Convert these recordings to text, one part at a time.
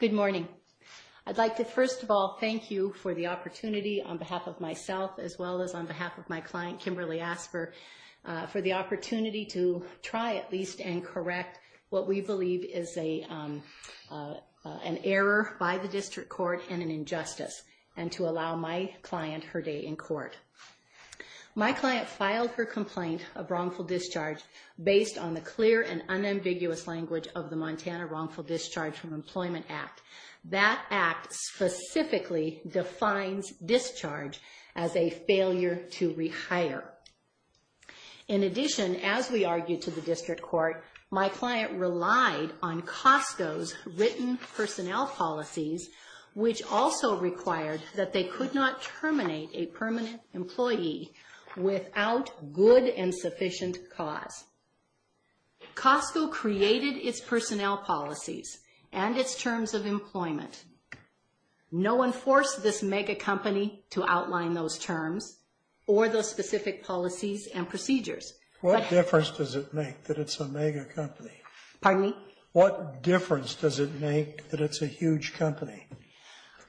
Good morning. I'd like to first of all thank you for the opportunity on behalf of myself as well as on behalf of my client Kimberly Asper for the opportunity to try at least and correct what we believe is an error by the district court and an injustice and to allow my client her day in court. My client filed her complaint of wrongful discharge based on the clear and unambiguous language of the Montana Wrongful Discharge from Employment Act. That act specifically defines discharge as a failure to rehire. In addition, as we argued to the district court, my client relied on Costco's written personnel policies which also required that they could not terminate a permanent employee without good and sufficient cause. Costco created its personnel policies and its terms of employment. No one forced this mega company to outline those terms or those specific policies and procedures. What difference does it make that it's a mega company? Pardon me? What difference does it make that it's a huge company?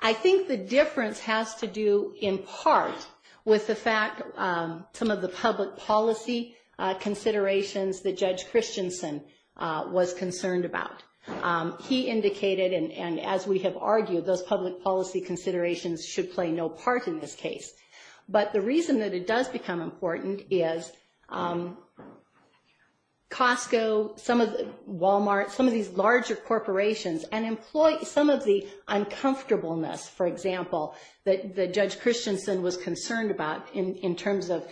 I think the difference has to do in part with the fact some of the public policy considerations that Judge Christensen was concerned about. He indicated, and as we have argued, those public policy considerations should play no part in this case. But the reason that it does become important is Costco, Walmart, some of these larger corporations and employ some of the in terms of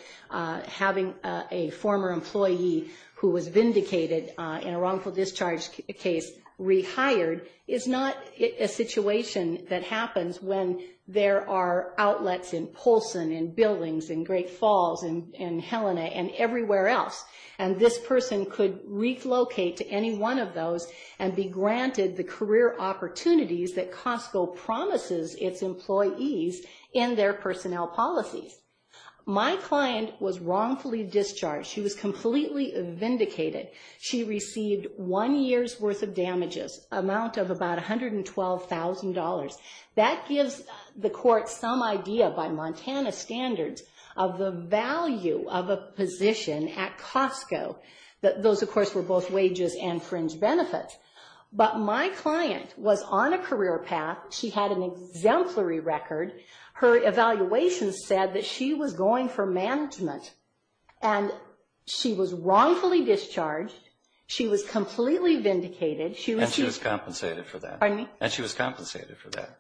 having a former employee who was vindicated in a wrongful discharge case rehired is not a situation that happens when there are outlets in Polson and buildings and Great Falls and Helena and everywhere else. And this person could relocate to any one of those and be granted the career opportunities that Costco promises its employees in their personnel policies. My client was wrongfully discharged. She was completely vindicated. She received one year's worth of damages, amount of about $112,000. That gives the court some idea by Montana standards of the value of a position at Costco. Those, of course, were both wages and fringe benefits. But my client was on a career path. She had an exemplary record. Her evaluation said that she was going for management. And she was wrongfully discharged. She was completely vindicated. And she was compensated for that. Pardon me? And she was compensated for that.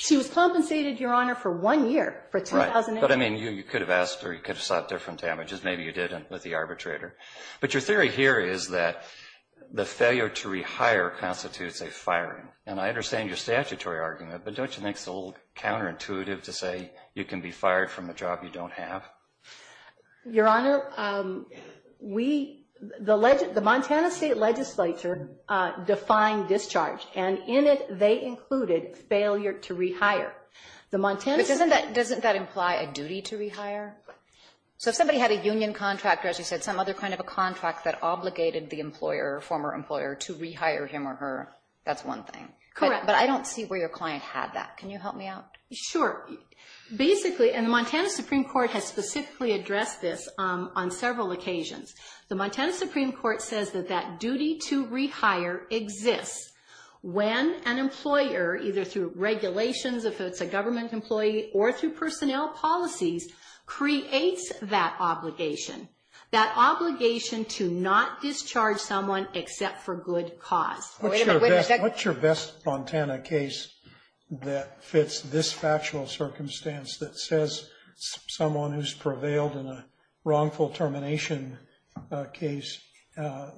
She was compensated, Your Honor, for one year, for $112,000. But I mean, you could have asked her. You could have sought different damages. Maybe you didn't with the arbitrator. But your theory here is that the failure to rehire constitutes a firing. And I understand your statutory argument. But don't you think it's a little counterintuitive to say you can be fired from a job you don't have? Your Honor, we, the Montana State Legislature defined discharge. And in it, they included failure to rehire. The Montana State... But doesn't that imply a duty to rehire? So if somebody had a union contract or, as you said, some other kind of a contract that obligated the employer or former employer to rehire him or her, that's one thing. Correct. But I don't see where your client had that. Can you help me out? Sure. Basically, and the Montana Supreme Court has specifically addressed this on several occasions. The Montana Supreme Court says that that duty to rehire exists when an employer, either through regulations, if it's a government employee, or through personnel policies, creates that obligation. That obligation to not discharge someone except for good cause. What's your best Montana case that fits this factual circumstance that says someone who's prevailed in a wrongful termination case?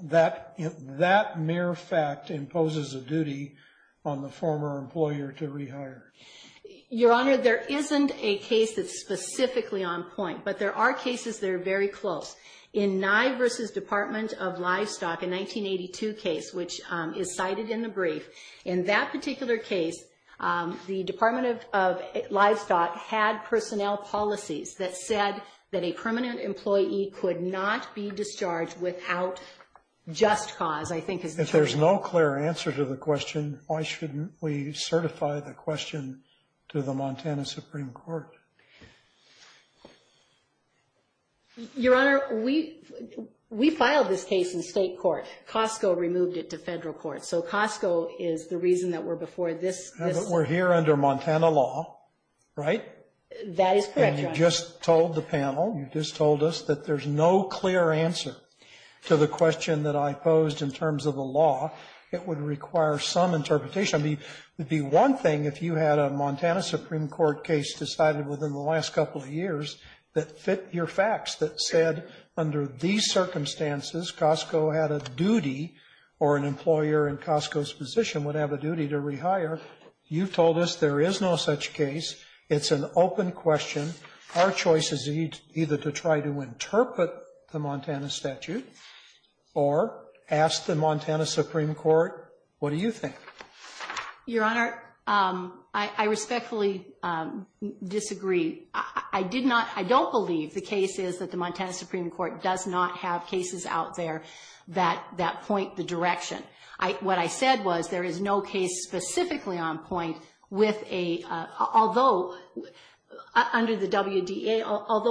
That mere fact imposes a duty on the former employer to rehire. Your Honor, there isn't a case that's specifically on point, but there are cases that are very close. In Nye v. Department of Livestock, a 1982 case, which is cited in the brief, in that particular case, the Department of Livestock had personnel policies that said that a permanent employee could not be discharged without just cause, I think is the term. If there's no clear answer to the question, why shouldn't we certify the question to the Montana Supreme Court? Your Honor, we filed this case in state court. Costco removed it to federal court. So Costco is the reason that we're before this. We're here under Montana law, right? That is correct, Your Honor. And you just told the panel, you just told us that there's no clear answer to the question that I posed in terms of the law. It would require some interpretation. I mean, it would be one thing if you had a Montana Supreme Court case decided within the last couple of years that fit your facts, that said under these circumstances, Costco had a duty or an employer in Costco's position would have a duty to rehire. You've told us there is no such case. It's an open question. Our choice is either to try to interpret the Montana statute or ask the Montana Supreme Court, what do you think? Your Honor, I respectfully disagree. I did not, I don't believe the case is that the Montana Supreme Court does not have cases out there that point the direction. What I Although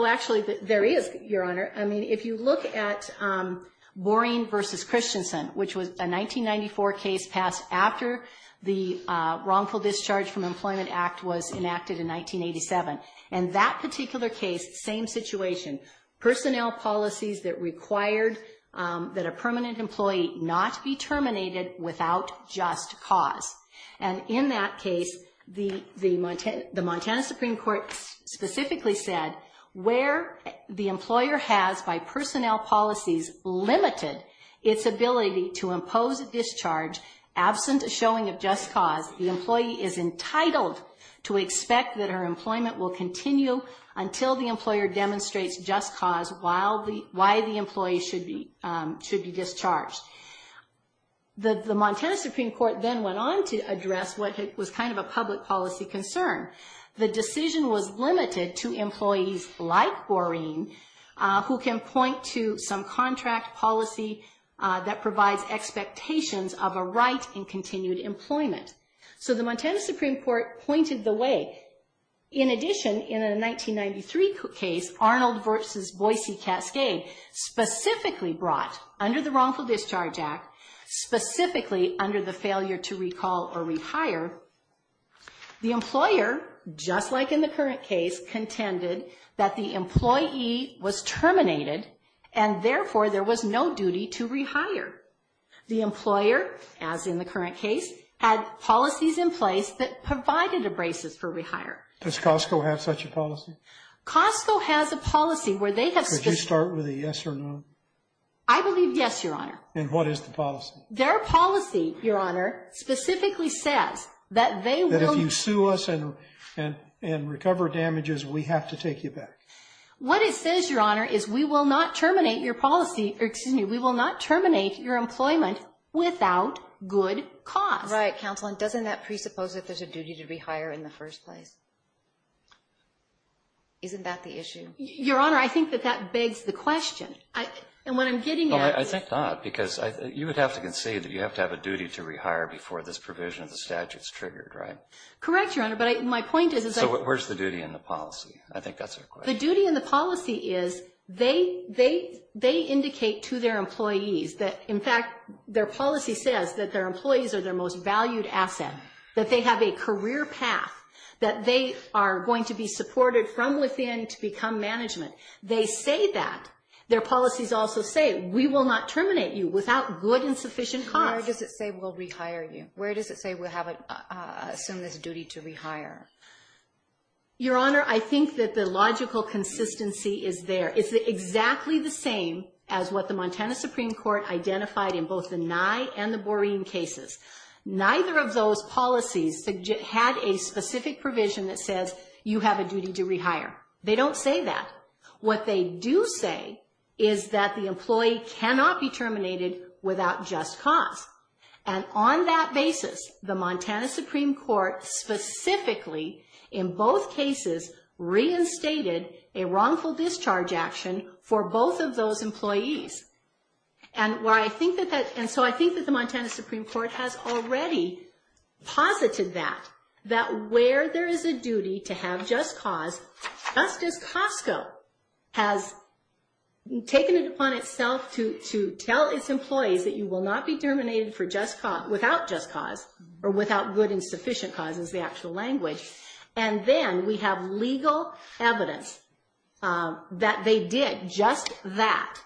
actually there is, Your Honor. I mean, if you look at Boring v. Christensen, which was a 1994 case passed after the Wrongful Discharge from Employment Act was enacted in 1987. And that particular case, same situation, personnel policies that required that a permanent employee not be terminated without just cause. And in that case, the Montana Supreme Court specifically said where the employer has, by personnel policies, limited its ability to impose a discharge absent a showing of just cause, the employee is entitled to expect that her employment will continue until the employer demonstrates just cause while the, why the employee should be, should be discharged. The Montana Supreme Court then went on to address what was kind of a public policy concern. The decision was limited to employees like Boring who can point to some contract policy that provides expectations of a right in continued employment. So the Montana Supreme Court pointed the way. In addition, in a 1993 case, Arnold v. Boise Cascade, specifically brought under the Wrongful Discharge Act, specifically under the failure to recall or just like in the current case, contended that the employee was terminated and therefore there was no duty to rehire. The employer, as in the current case, had policies in place that provided a basis for rehire. Does Costco have such a policy? Costco has a policy where they have. Could you start with a yes or no? I believe yes, Your Honor. And what is the and recover damages, we have to take you back. What it says, Your Honor, is we will not terminate your policy, excuse me, we will not terminate your employment without good cause. Right, Counsel, and doesn't that presuppose that there's a duty to rehire in the first place? Isn't that the issue? Your Honor, I think that that begs the question. And what I'm getting at I think not, because you would have to concede that you have to have a duty to rehire before this provision of the statute is triggered, right? Correct, Your Honor, but my point is. Where's the duty in the policy? I think that's a question. The duty in the policy is they indicate to their employees that, in fact, their policy says that their employees are their most valued asset, that they have a career path, that they are going to be supported from within to become management. They say that. Their policies also say we will not terminate you without good and where does it say we'll assume this duty to rehire? Your Honor, I think that the logical consistency is there. It's exactly the same as what the Montana Supreme Court identified in both the Nye and the Boreen cases. Neither of those policies had a specific provision that says you have a duty to rehire. They don't say that. What they do say is that the employee cannot be the Montana Supreme Court specifically in both cases reinstated a wrongful discharge action for both of those employees. And so I think that the Montana Supreme Court has already posited that, that where there is a duty to have just cause, just as Costco has taken it upon to tell its employees that you will not be terminated without just cause or without good and sufficient cause is the actual language. And then we have legal evidence that they did just that.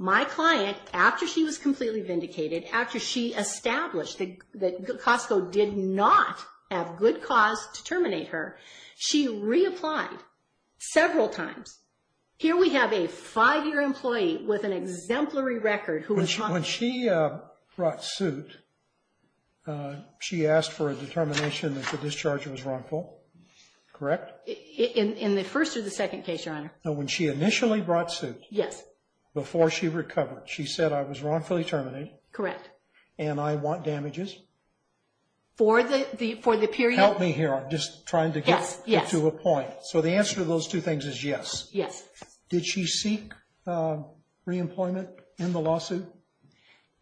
My client, after she was completely vindicated, after she established that Costco did not have good cause to terminate her, she reapplied several times. Here we have a five-year employee with an exemplary record. When she brought suit, she asked for a determination that the discharge was wrongful, correct? In the first or the second case, Your Honor. When she initially brought suit. Yes. Before she recovered, she said I was wrongfully terminated. Correct. And I want damages. For the period. Help me here. I'm just trying to get to a point. So the answer to those two things is yes. Yes. Did she seek reemployment in the lawsuit?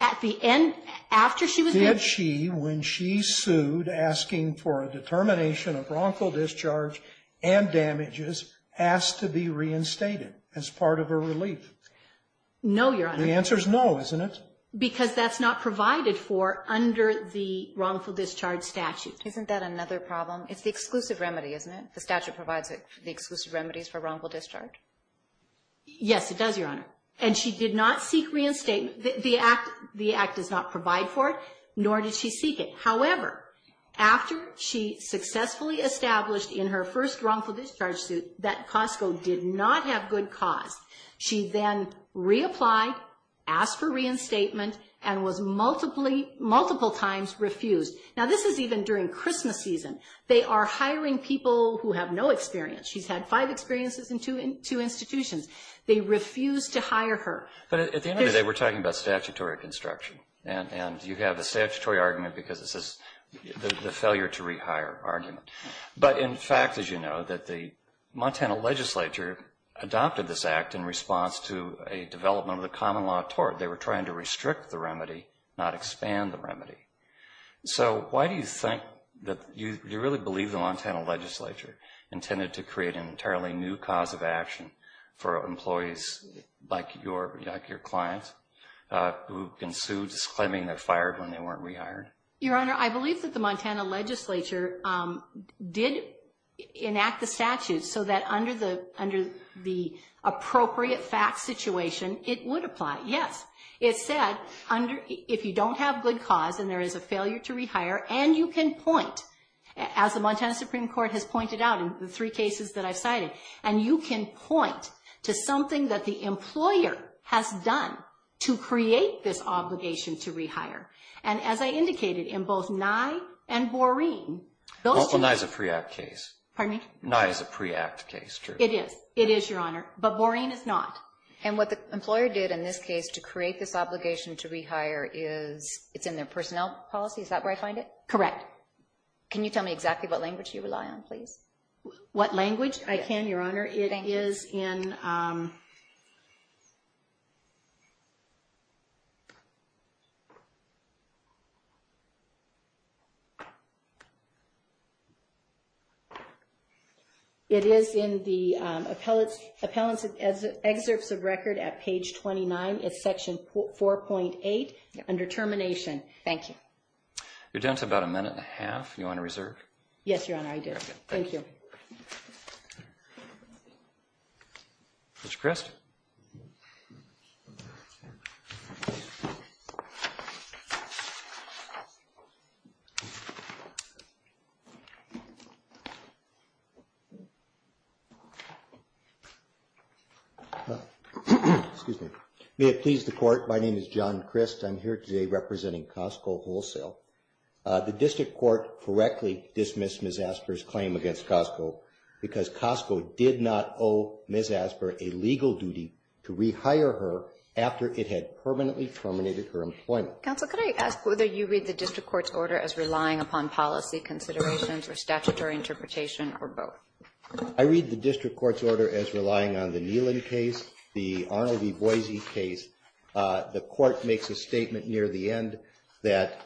At the end, after she was. Did she, when she sued asking for a determination of wrongful discharge and damages, asked to be reinstated as part of a relief? No, Your Honor. The answer is no, isn't it? Because that's not provided for under the wrongful discharge statute. Isn't that another problem? It's the exclusive remedy, isn't it? The statute provides the exclusive remedies for wrongful discharge. Yes, it does, Your Honor. And she did not seek reinstatement. The act, the act does not provide for it, nor did she seek it. However, after she successfully established in her first wrongful discharge suit that Costco did not have good cause, she then reapplied, asked for reinstatement and was multiple times refused. Now this is even during Christmas season. They are hiring people who have no experience. She's had five experiences in two institutions. They refuse to hire her. But at the end of the day, we're talking about statutory construction. And you have a statutory argument because this is the failure to rehire argument. But in fact, as you know, that the Montana legislature adopted this act in response to a development of the common law tort. They were trying to restrict the remedy, not expand the remedy. So why do you think that you really believe the Montana legislature intended to create an entirely new cause of action for employees like your client who can sue disclaiming they're fired when they weren't rehired? Your Honor, I believe that the Montana legislature did enact the statute so that under the appropriate facts situation, it would apply. Yes, it said under if you don't have good cause and there is a failure to rehire and you can point as the Montana Supreme Court has pointed out in the three cases that I've cited, and you can point to something that the employer has done to create this obligation to rehire. And as I indicated in both Nye and Boreen, Nye is a pre-act case. Pardon me? Nye is a pre-act case. It is. It is, Your Honor. But Boreen is not. And what the employer did in this case to create this obligation to rehire is it's in their personnel policy. Is that where I find it? Correct. Can you tell me exactly what language you rely on, please? What language? I can, Your Honor. It is in the appellate's excerpts of record at page 29, it's section 4.8 under termination. Thank you. You're down to about a minute and a half. Do you want to reserve? Yes, Your Honor, I do. Thank you. Mr. Crist? May it please the Court, my name is John Crist. I'm here today representing Costco Wholesale. The district court correctly dismissed Ms. Asper's claim against Costco because Costco did not owe Ms. Asper a legal duty to rehire her after it had permanently terminated her employment. Counsel, could I ask whether you read the district court's order as statutory interpretation or both? I read the district court's order as relying on the Neelan case, the Arnold v. Boise case. The court makes a statement near the end that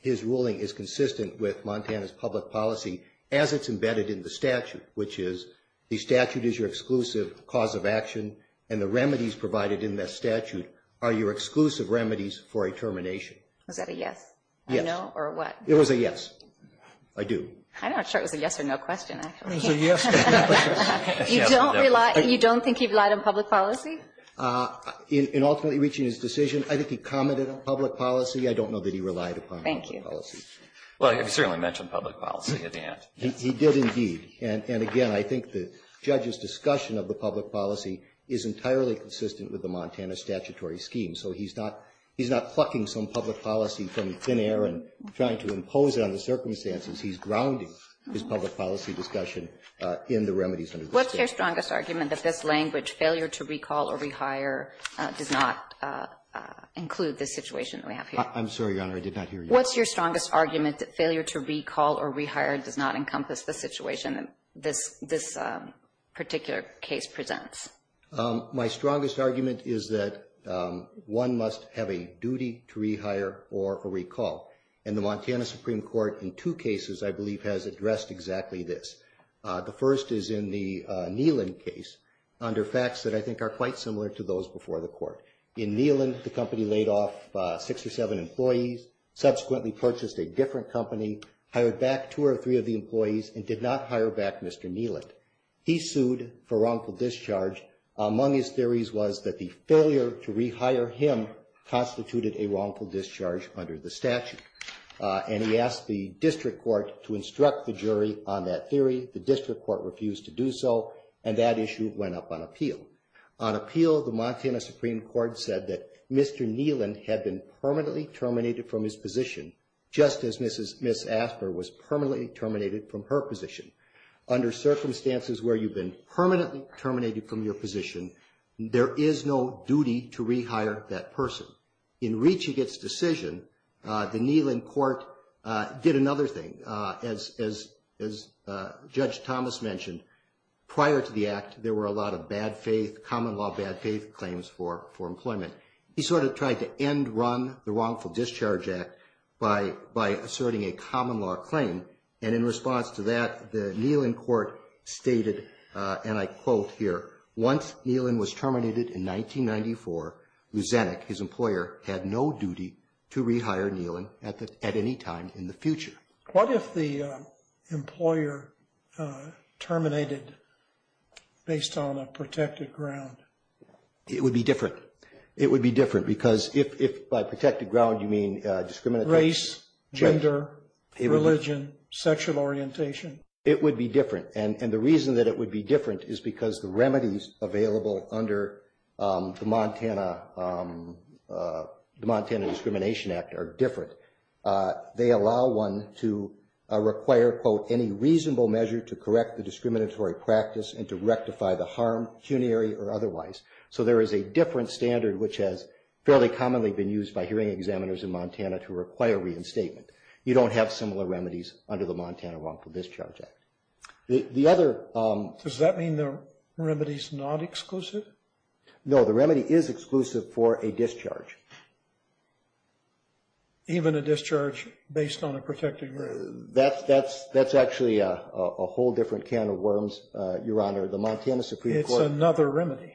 his ruling is consistent with Montana's public policy as it's embedded in the statute, which is the statute is your exclusive cause of action and the remedies provided in that statute are your exclusive remedies for a termination. Was that a yes? Yes. A no or a what? It was a yes. I do. I'm not sure it was a yes or no question, actually. It was a yes. You don't think he relied on public policy? In ultimately reaching his decision, I think he commented on public policy. I don't know that he relied upon public policy. Well, he certainly mentioned public policy at the end. He did indeed. And again, I think the judge's discussion of the public policy is entirely consistent with the Montana statutory scheme. So he's not plucking some public policy from thin air and trying to impose it on the circumstances. He's grounding his public policy discussion in the remedies under the statute. What's your strongest argument that this language, failure to recall or rehire, does not include this situation that we have here? I'm sorry, Your Honor. I did not hear you. What's your strongest argument that failure to recall or rehire does not encompass the situation that this particular case presents? My strongest argument is that one must have a duty to rehire or recall. And the Montana Supreme Court in two cases, I believe, has addressed exactly this. The first is in the Neelan case under facts that I think are quite similar to those before the court. In Neelan, the company laid off six or seven employees, subsequently purchased a different company, hired back two or three of the employees and did not hire back Mr. Neelan. He sued for wrongful discharge. Among his theories was that the failure to rehire him constituted a wrongful discharge under the statute. And he asked the district court to instruct the jury on that theory. The district court refused to do so, and that issue went up on appeal. On appeal, the Montana Supreme Court said that Mr. Neelan had been permanently terminated from his position, just as Ms. Asper was permanently terminated from her position. Under circumstances where you've been permanently terminated from your position, there is no duty to rehire that person. In reaching its decision, the Neelan court did another thing. As Judge Thomas mentioned, prior to the act, there were a lot of bad faith, common law bad faith claims for employment. He sort of tried to end run the wrongful discharge act by asserting a common law claim. And in court stated, and I quote here, once Neelan was terminated in 1994, Luzanik, his employer, had no duty to rehire Neelan at any time in the future. What if the employer terminated based on a protected ground? It would be different. It would be different because if by protected ground you mean discriminatory. Race, gender, religion, sexual orientation. It would be different. And the reason that it would be different is because the remedies available under the Montana Discrimination Act are different. They allow one to require, quote, any reasonable measure to correct the discriminatory practice and to rectify the harm, puniary or otherwise. So there is a different standard, which has fairly commonly been used by hearing examiners in Montana to require reinstatement. You don't have similar remedies under the Montana Wrongful Discharge Act. The other... Does that mean the remedy is not exclusive? No, the remedy is exclusive for a discharge. Even a discharge based on a protected ground? That's actually a whole different can of worms, Your Honor. The Montana Supreme Court... It's another remedy.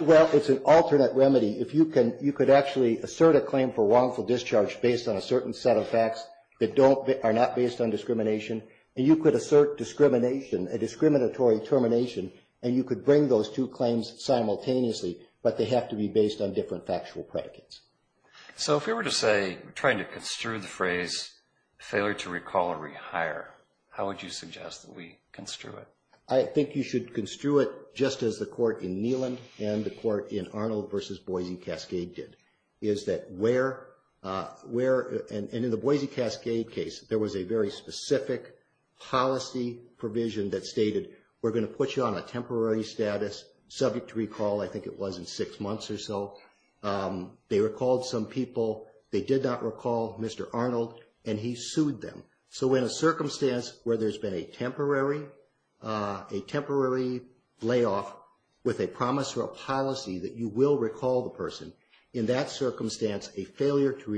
Well, it's an alternate remedy. You could actually assert a claim for wrongful discharge based on a certain set of facts that are not based on discrimination, and you could assert discrimination, a discriminatory termination, and you could bring those two claims simultaneously, but they have to be based on different factual predicates. So if we were to say, trying to construe the phrase, failure to recall or rehire, how would you suggest that we construe it? I think you should construe it just as the court in Neyland and the court in Arnold versus Boise Cascade did, is that where... And in the Boise Cascade case, there was a very specific policy provision that stated, we're going to put you on a temporary status, subject to recall, I think it was in six months or so. They recalled some people, they did not recall Mr. Arnold, and he sued them. So in a circumstance where there's been a temporary layoff with a promise or a policy that you will recall the person, in that circumstance, a failure to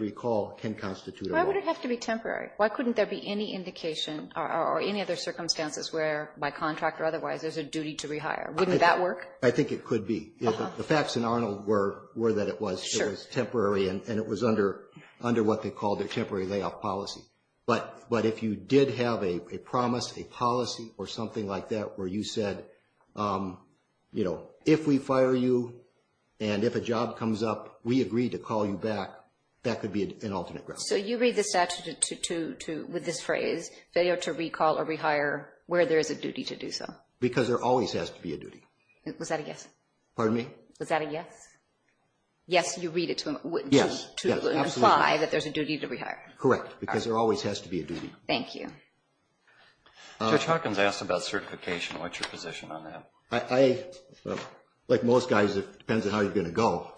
recall can constitute a wrong. Why would it have to be temporary? Why couldn't there be any indication or any other circumstances where, by contract or otherwise, there's a duty to rehire? Wouldn't that work? I think it could be. The facts in Arnold were that it was temporary and it was under what they called their temporary layoff policy. But if you did have a promise, a policy, or something like that, where you said, if we fire you and if a job comes up, we agreed to call you back, that could be an alternate ground. So you read the statute with this phrase, failure to recall or rehire, where there is a duty to do so? Because there always has to be a duty. Was that a yes? Pardon me? Was that a yes? Yes, you read it to imply that there's a duty to rehire. Correct. Because there always has to be a duty. Thank you. Judge Hawkins asked about certification. What's your position on that? Like most guys, it depends on how you're going to go.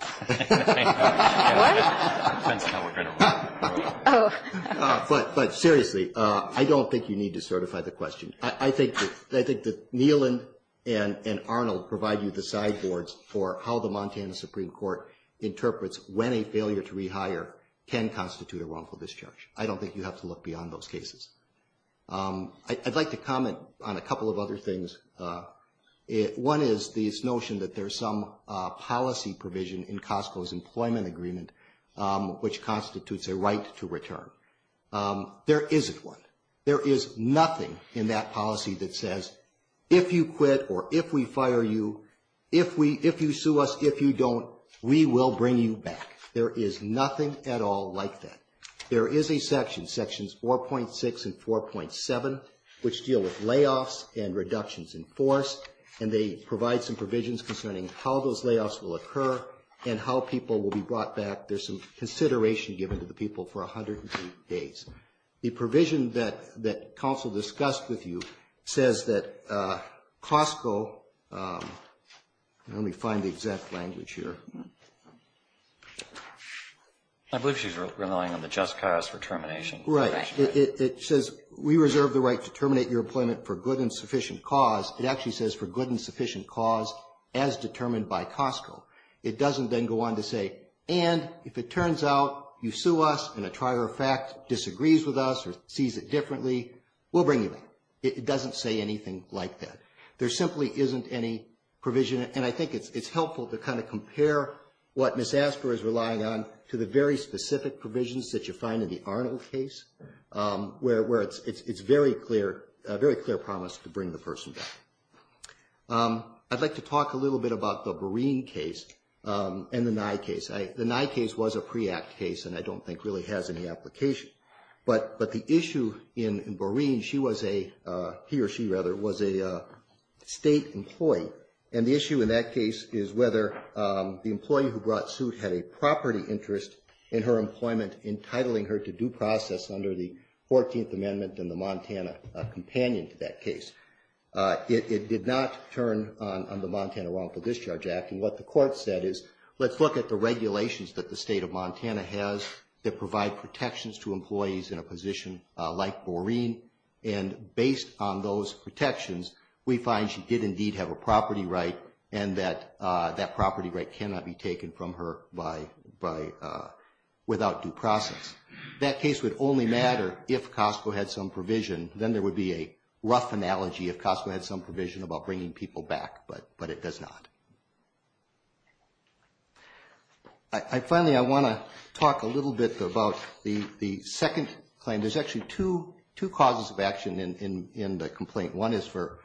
But seriously, I don't think you need to certify the question. I think that Neelan and Arnold provide you the side boards for how the Montana Supreme Court interprets when a failure to rehire can constitute a wrongful discharge. I don't think you have to look beyond those cases. I'd like to comment on a couple of other things. One is this notion that there's some policy provision in Costco's employment agreement which constitutes a right to return. There isn't one. There is nothing in that policy that says, if you quit or if we fire you, if you sue us, if you don't, we will bring you back. There is nothing at all like that. There is a section, sections 4.6 and 4.7, which deal with layoffs and reductions in force, and they provide some provisions concerning how those layoffs will occur and how people will be brought back. There's some that counsel discussed with you says that Costco, let me find the exact language here. I believe she's relying on the just cause for termination. Right. It says, we reserve the right to terminate your employment for good and sufficient cause. It actually says for good and sufficient cause as determined by Costco. It doesn't then go on to say, and if it turns out you sue us and a trier of fact disagrees with us or sees it differently, we'll bring you back. It doesn't say anything like that. There simply isn't any provision, and I think it's helpful to kind of compare what Ms. Asper is relying on to the very specific provisions that you find in the Arnold case where it's very clear, a very clear promise to bring the person back. I'd like to talk a little bit about the Boreen case and the Nye case. The Nye case was a pre-act case and I don't think really has any application, but the issue in Boreen, she was a, he or she rather, was a state employee, and the issue in that case is whether the employee who brought suit had a property interest in her employment entitling her to due process under the It did not turn on the Montana Welfare Discharge Act, and what the court said is, let's look at the regulations that the state of Montana has that provide protections to employees in a position like Boreen, and based on those protections, we find she did indeed have a property right and that that property right cannot be taken from her without due process. That case would only matter if Costco had some provision. Then there would be a rough analogy if Costco had some provision about bringing people back, but it does not. Finally, I want to talk a little bit about the second claim. There's actually two causes of action in the complaint. One is for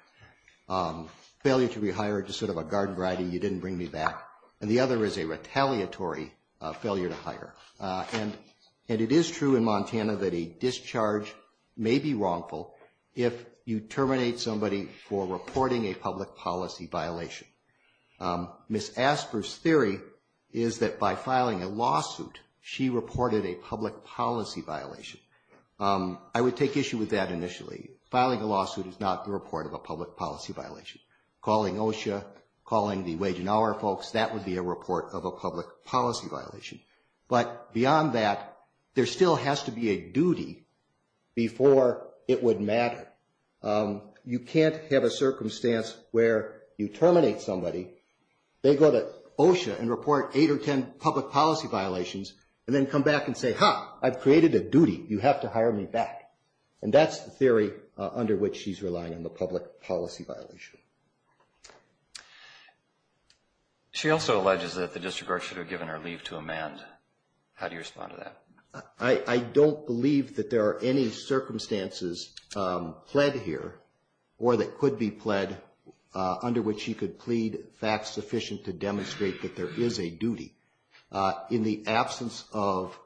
failure to rehire, just sort of a garden variety, you didn't bring me back, and the other is a retaliatory failure to hire, and it is true in for reporting a public policy violation. Ms. Asper's theory is that by filing a lawsuit, she reported a public policy violation. I would take issue with that initially. Filing a lawsuit is not the report of a public policy violation. Calling OSHA, calling the Wage and Hour folks, that would be a report of a public policy violation, but beyond that, there still has to be a duty before it would matter. You can't have a circumstance where you terminate somebody, they go to OSHA and report eight or ten public policy violations and then come back and say, ha, I've created a duty, you have to hire me back, and that's the theory under which she's relying on the public policy violation. She also alleges that the district court should have given her leave to amend. How do you respond to that? I don't believe that there are any circumstances pled here or that could be pled under which she could plead facts sufficient to demonstrate that there is a duty. In the absence of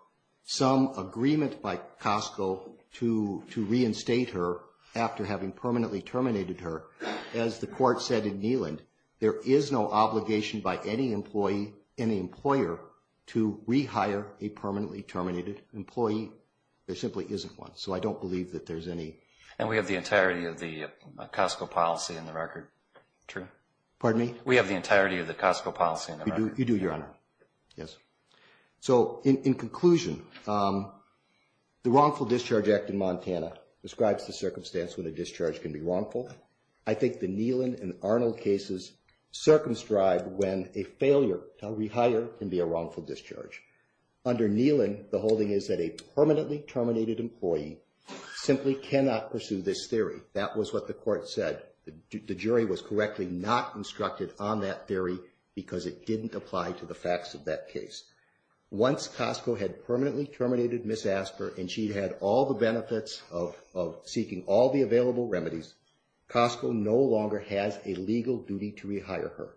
some agreement by Costco to reinstate her after having permanently terminated her, as the court said in Neyland, there is no obligation by any employee, any employer, to rehire a permanently terminated employee. There simply isn't one, so I don't believe that there's any. And we have the entirety of the Costco policy in the record. True. Pardon me? We have the entirety of the Costco policy in the record. You do, Your Honor. Yes. So, in conclusion, the Wrongful Discharge Act in Montana describes the circumstance when a discharge can be wrongful. I think the Neyland and Arnold cases circumscribe when a failure to wrongful discharge. Under Neyland, the holding is that a permanently terminated employee simply cannot pursue this theory. That was what the court said. The jury was correctly not instructed on that theory because it didn't apply to the facts of that case. Once Costco had permanently terminated Ms. Asper and she had all the benefits of seeking all the available remedies, Costco no longer has a legal duty to rehire her.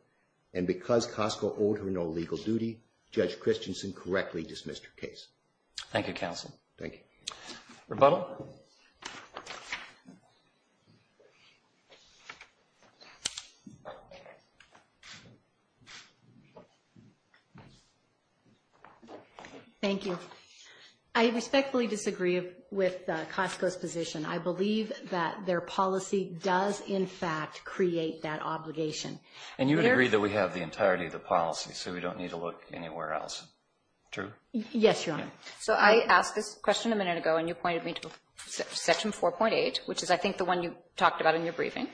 And because Costco owed her no legal duty, Judge Christensen correctly dismissed her case. Thank you, counsel. Thank you. Rebuttal? Thank you. I respectfully disagree with Costco's position. I believe that their policy does, in fact, create that obligation. And you would agree that we have the entirety of the policy, so we don't need to look anywhere else. True? Yes, Your Honor. So, I asked this question a minute ago and you pointed me to Section 4.8, which is, I think, the one you talked about in your briefing.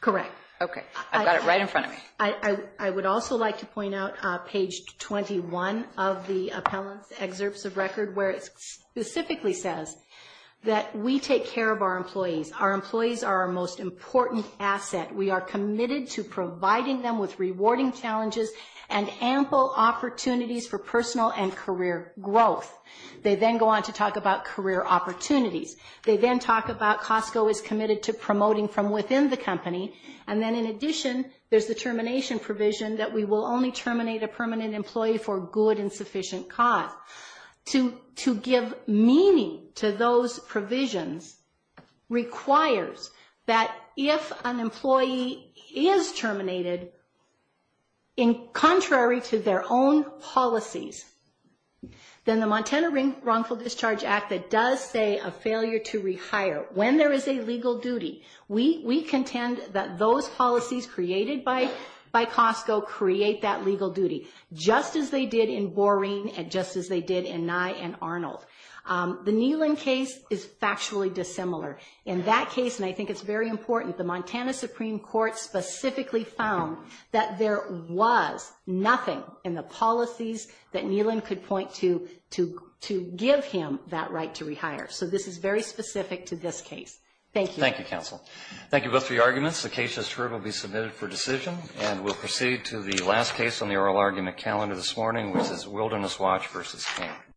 Correct. Okay. I've got it right in front of me. I would also like to point out page 21 of the appellant's excerpts of record where it specifically says that we take care of our employees. Our employees are committed. We are committed to providing them with rewarding challenges and ample opportunities for personal and career growth. They then go on to talk about career opportunities. They then talk about Costco is committed to promoting from within the company. And then, in addition, there's the termination provision that we will only terminate a permanent employee for good and sufficient cause. To give meaning to those provisions requires that if an employee is terminated contrary to their own policies, then the Montana Wrongful Discharge Act that does say a failure to rehire when there is a legal duty, we contend that those policies created by Costco create that Arnold. The Neelan case is factually dissimilar. In that case, and I think it's very important, the Montana Supreme Court specifically found that there was nothing in the policies that Neelan could point to to give him that right to rehire. So this is very specific to this case. Thank you. Thank you, counsel. Thank you both for your arguments. The case has terribly submitted for decision and we'll proceed to the last case on the oral argument calendar this morning, which is Wilderness Watch v. King.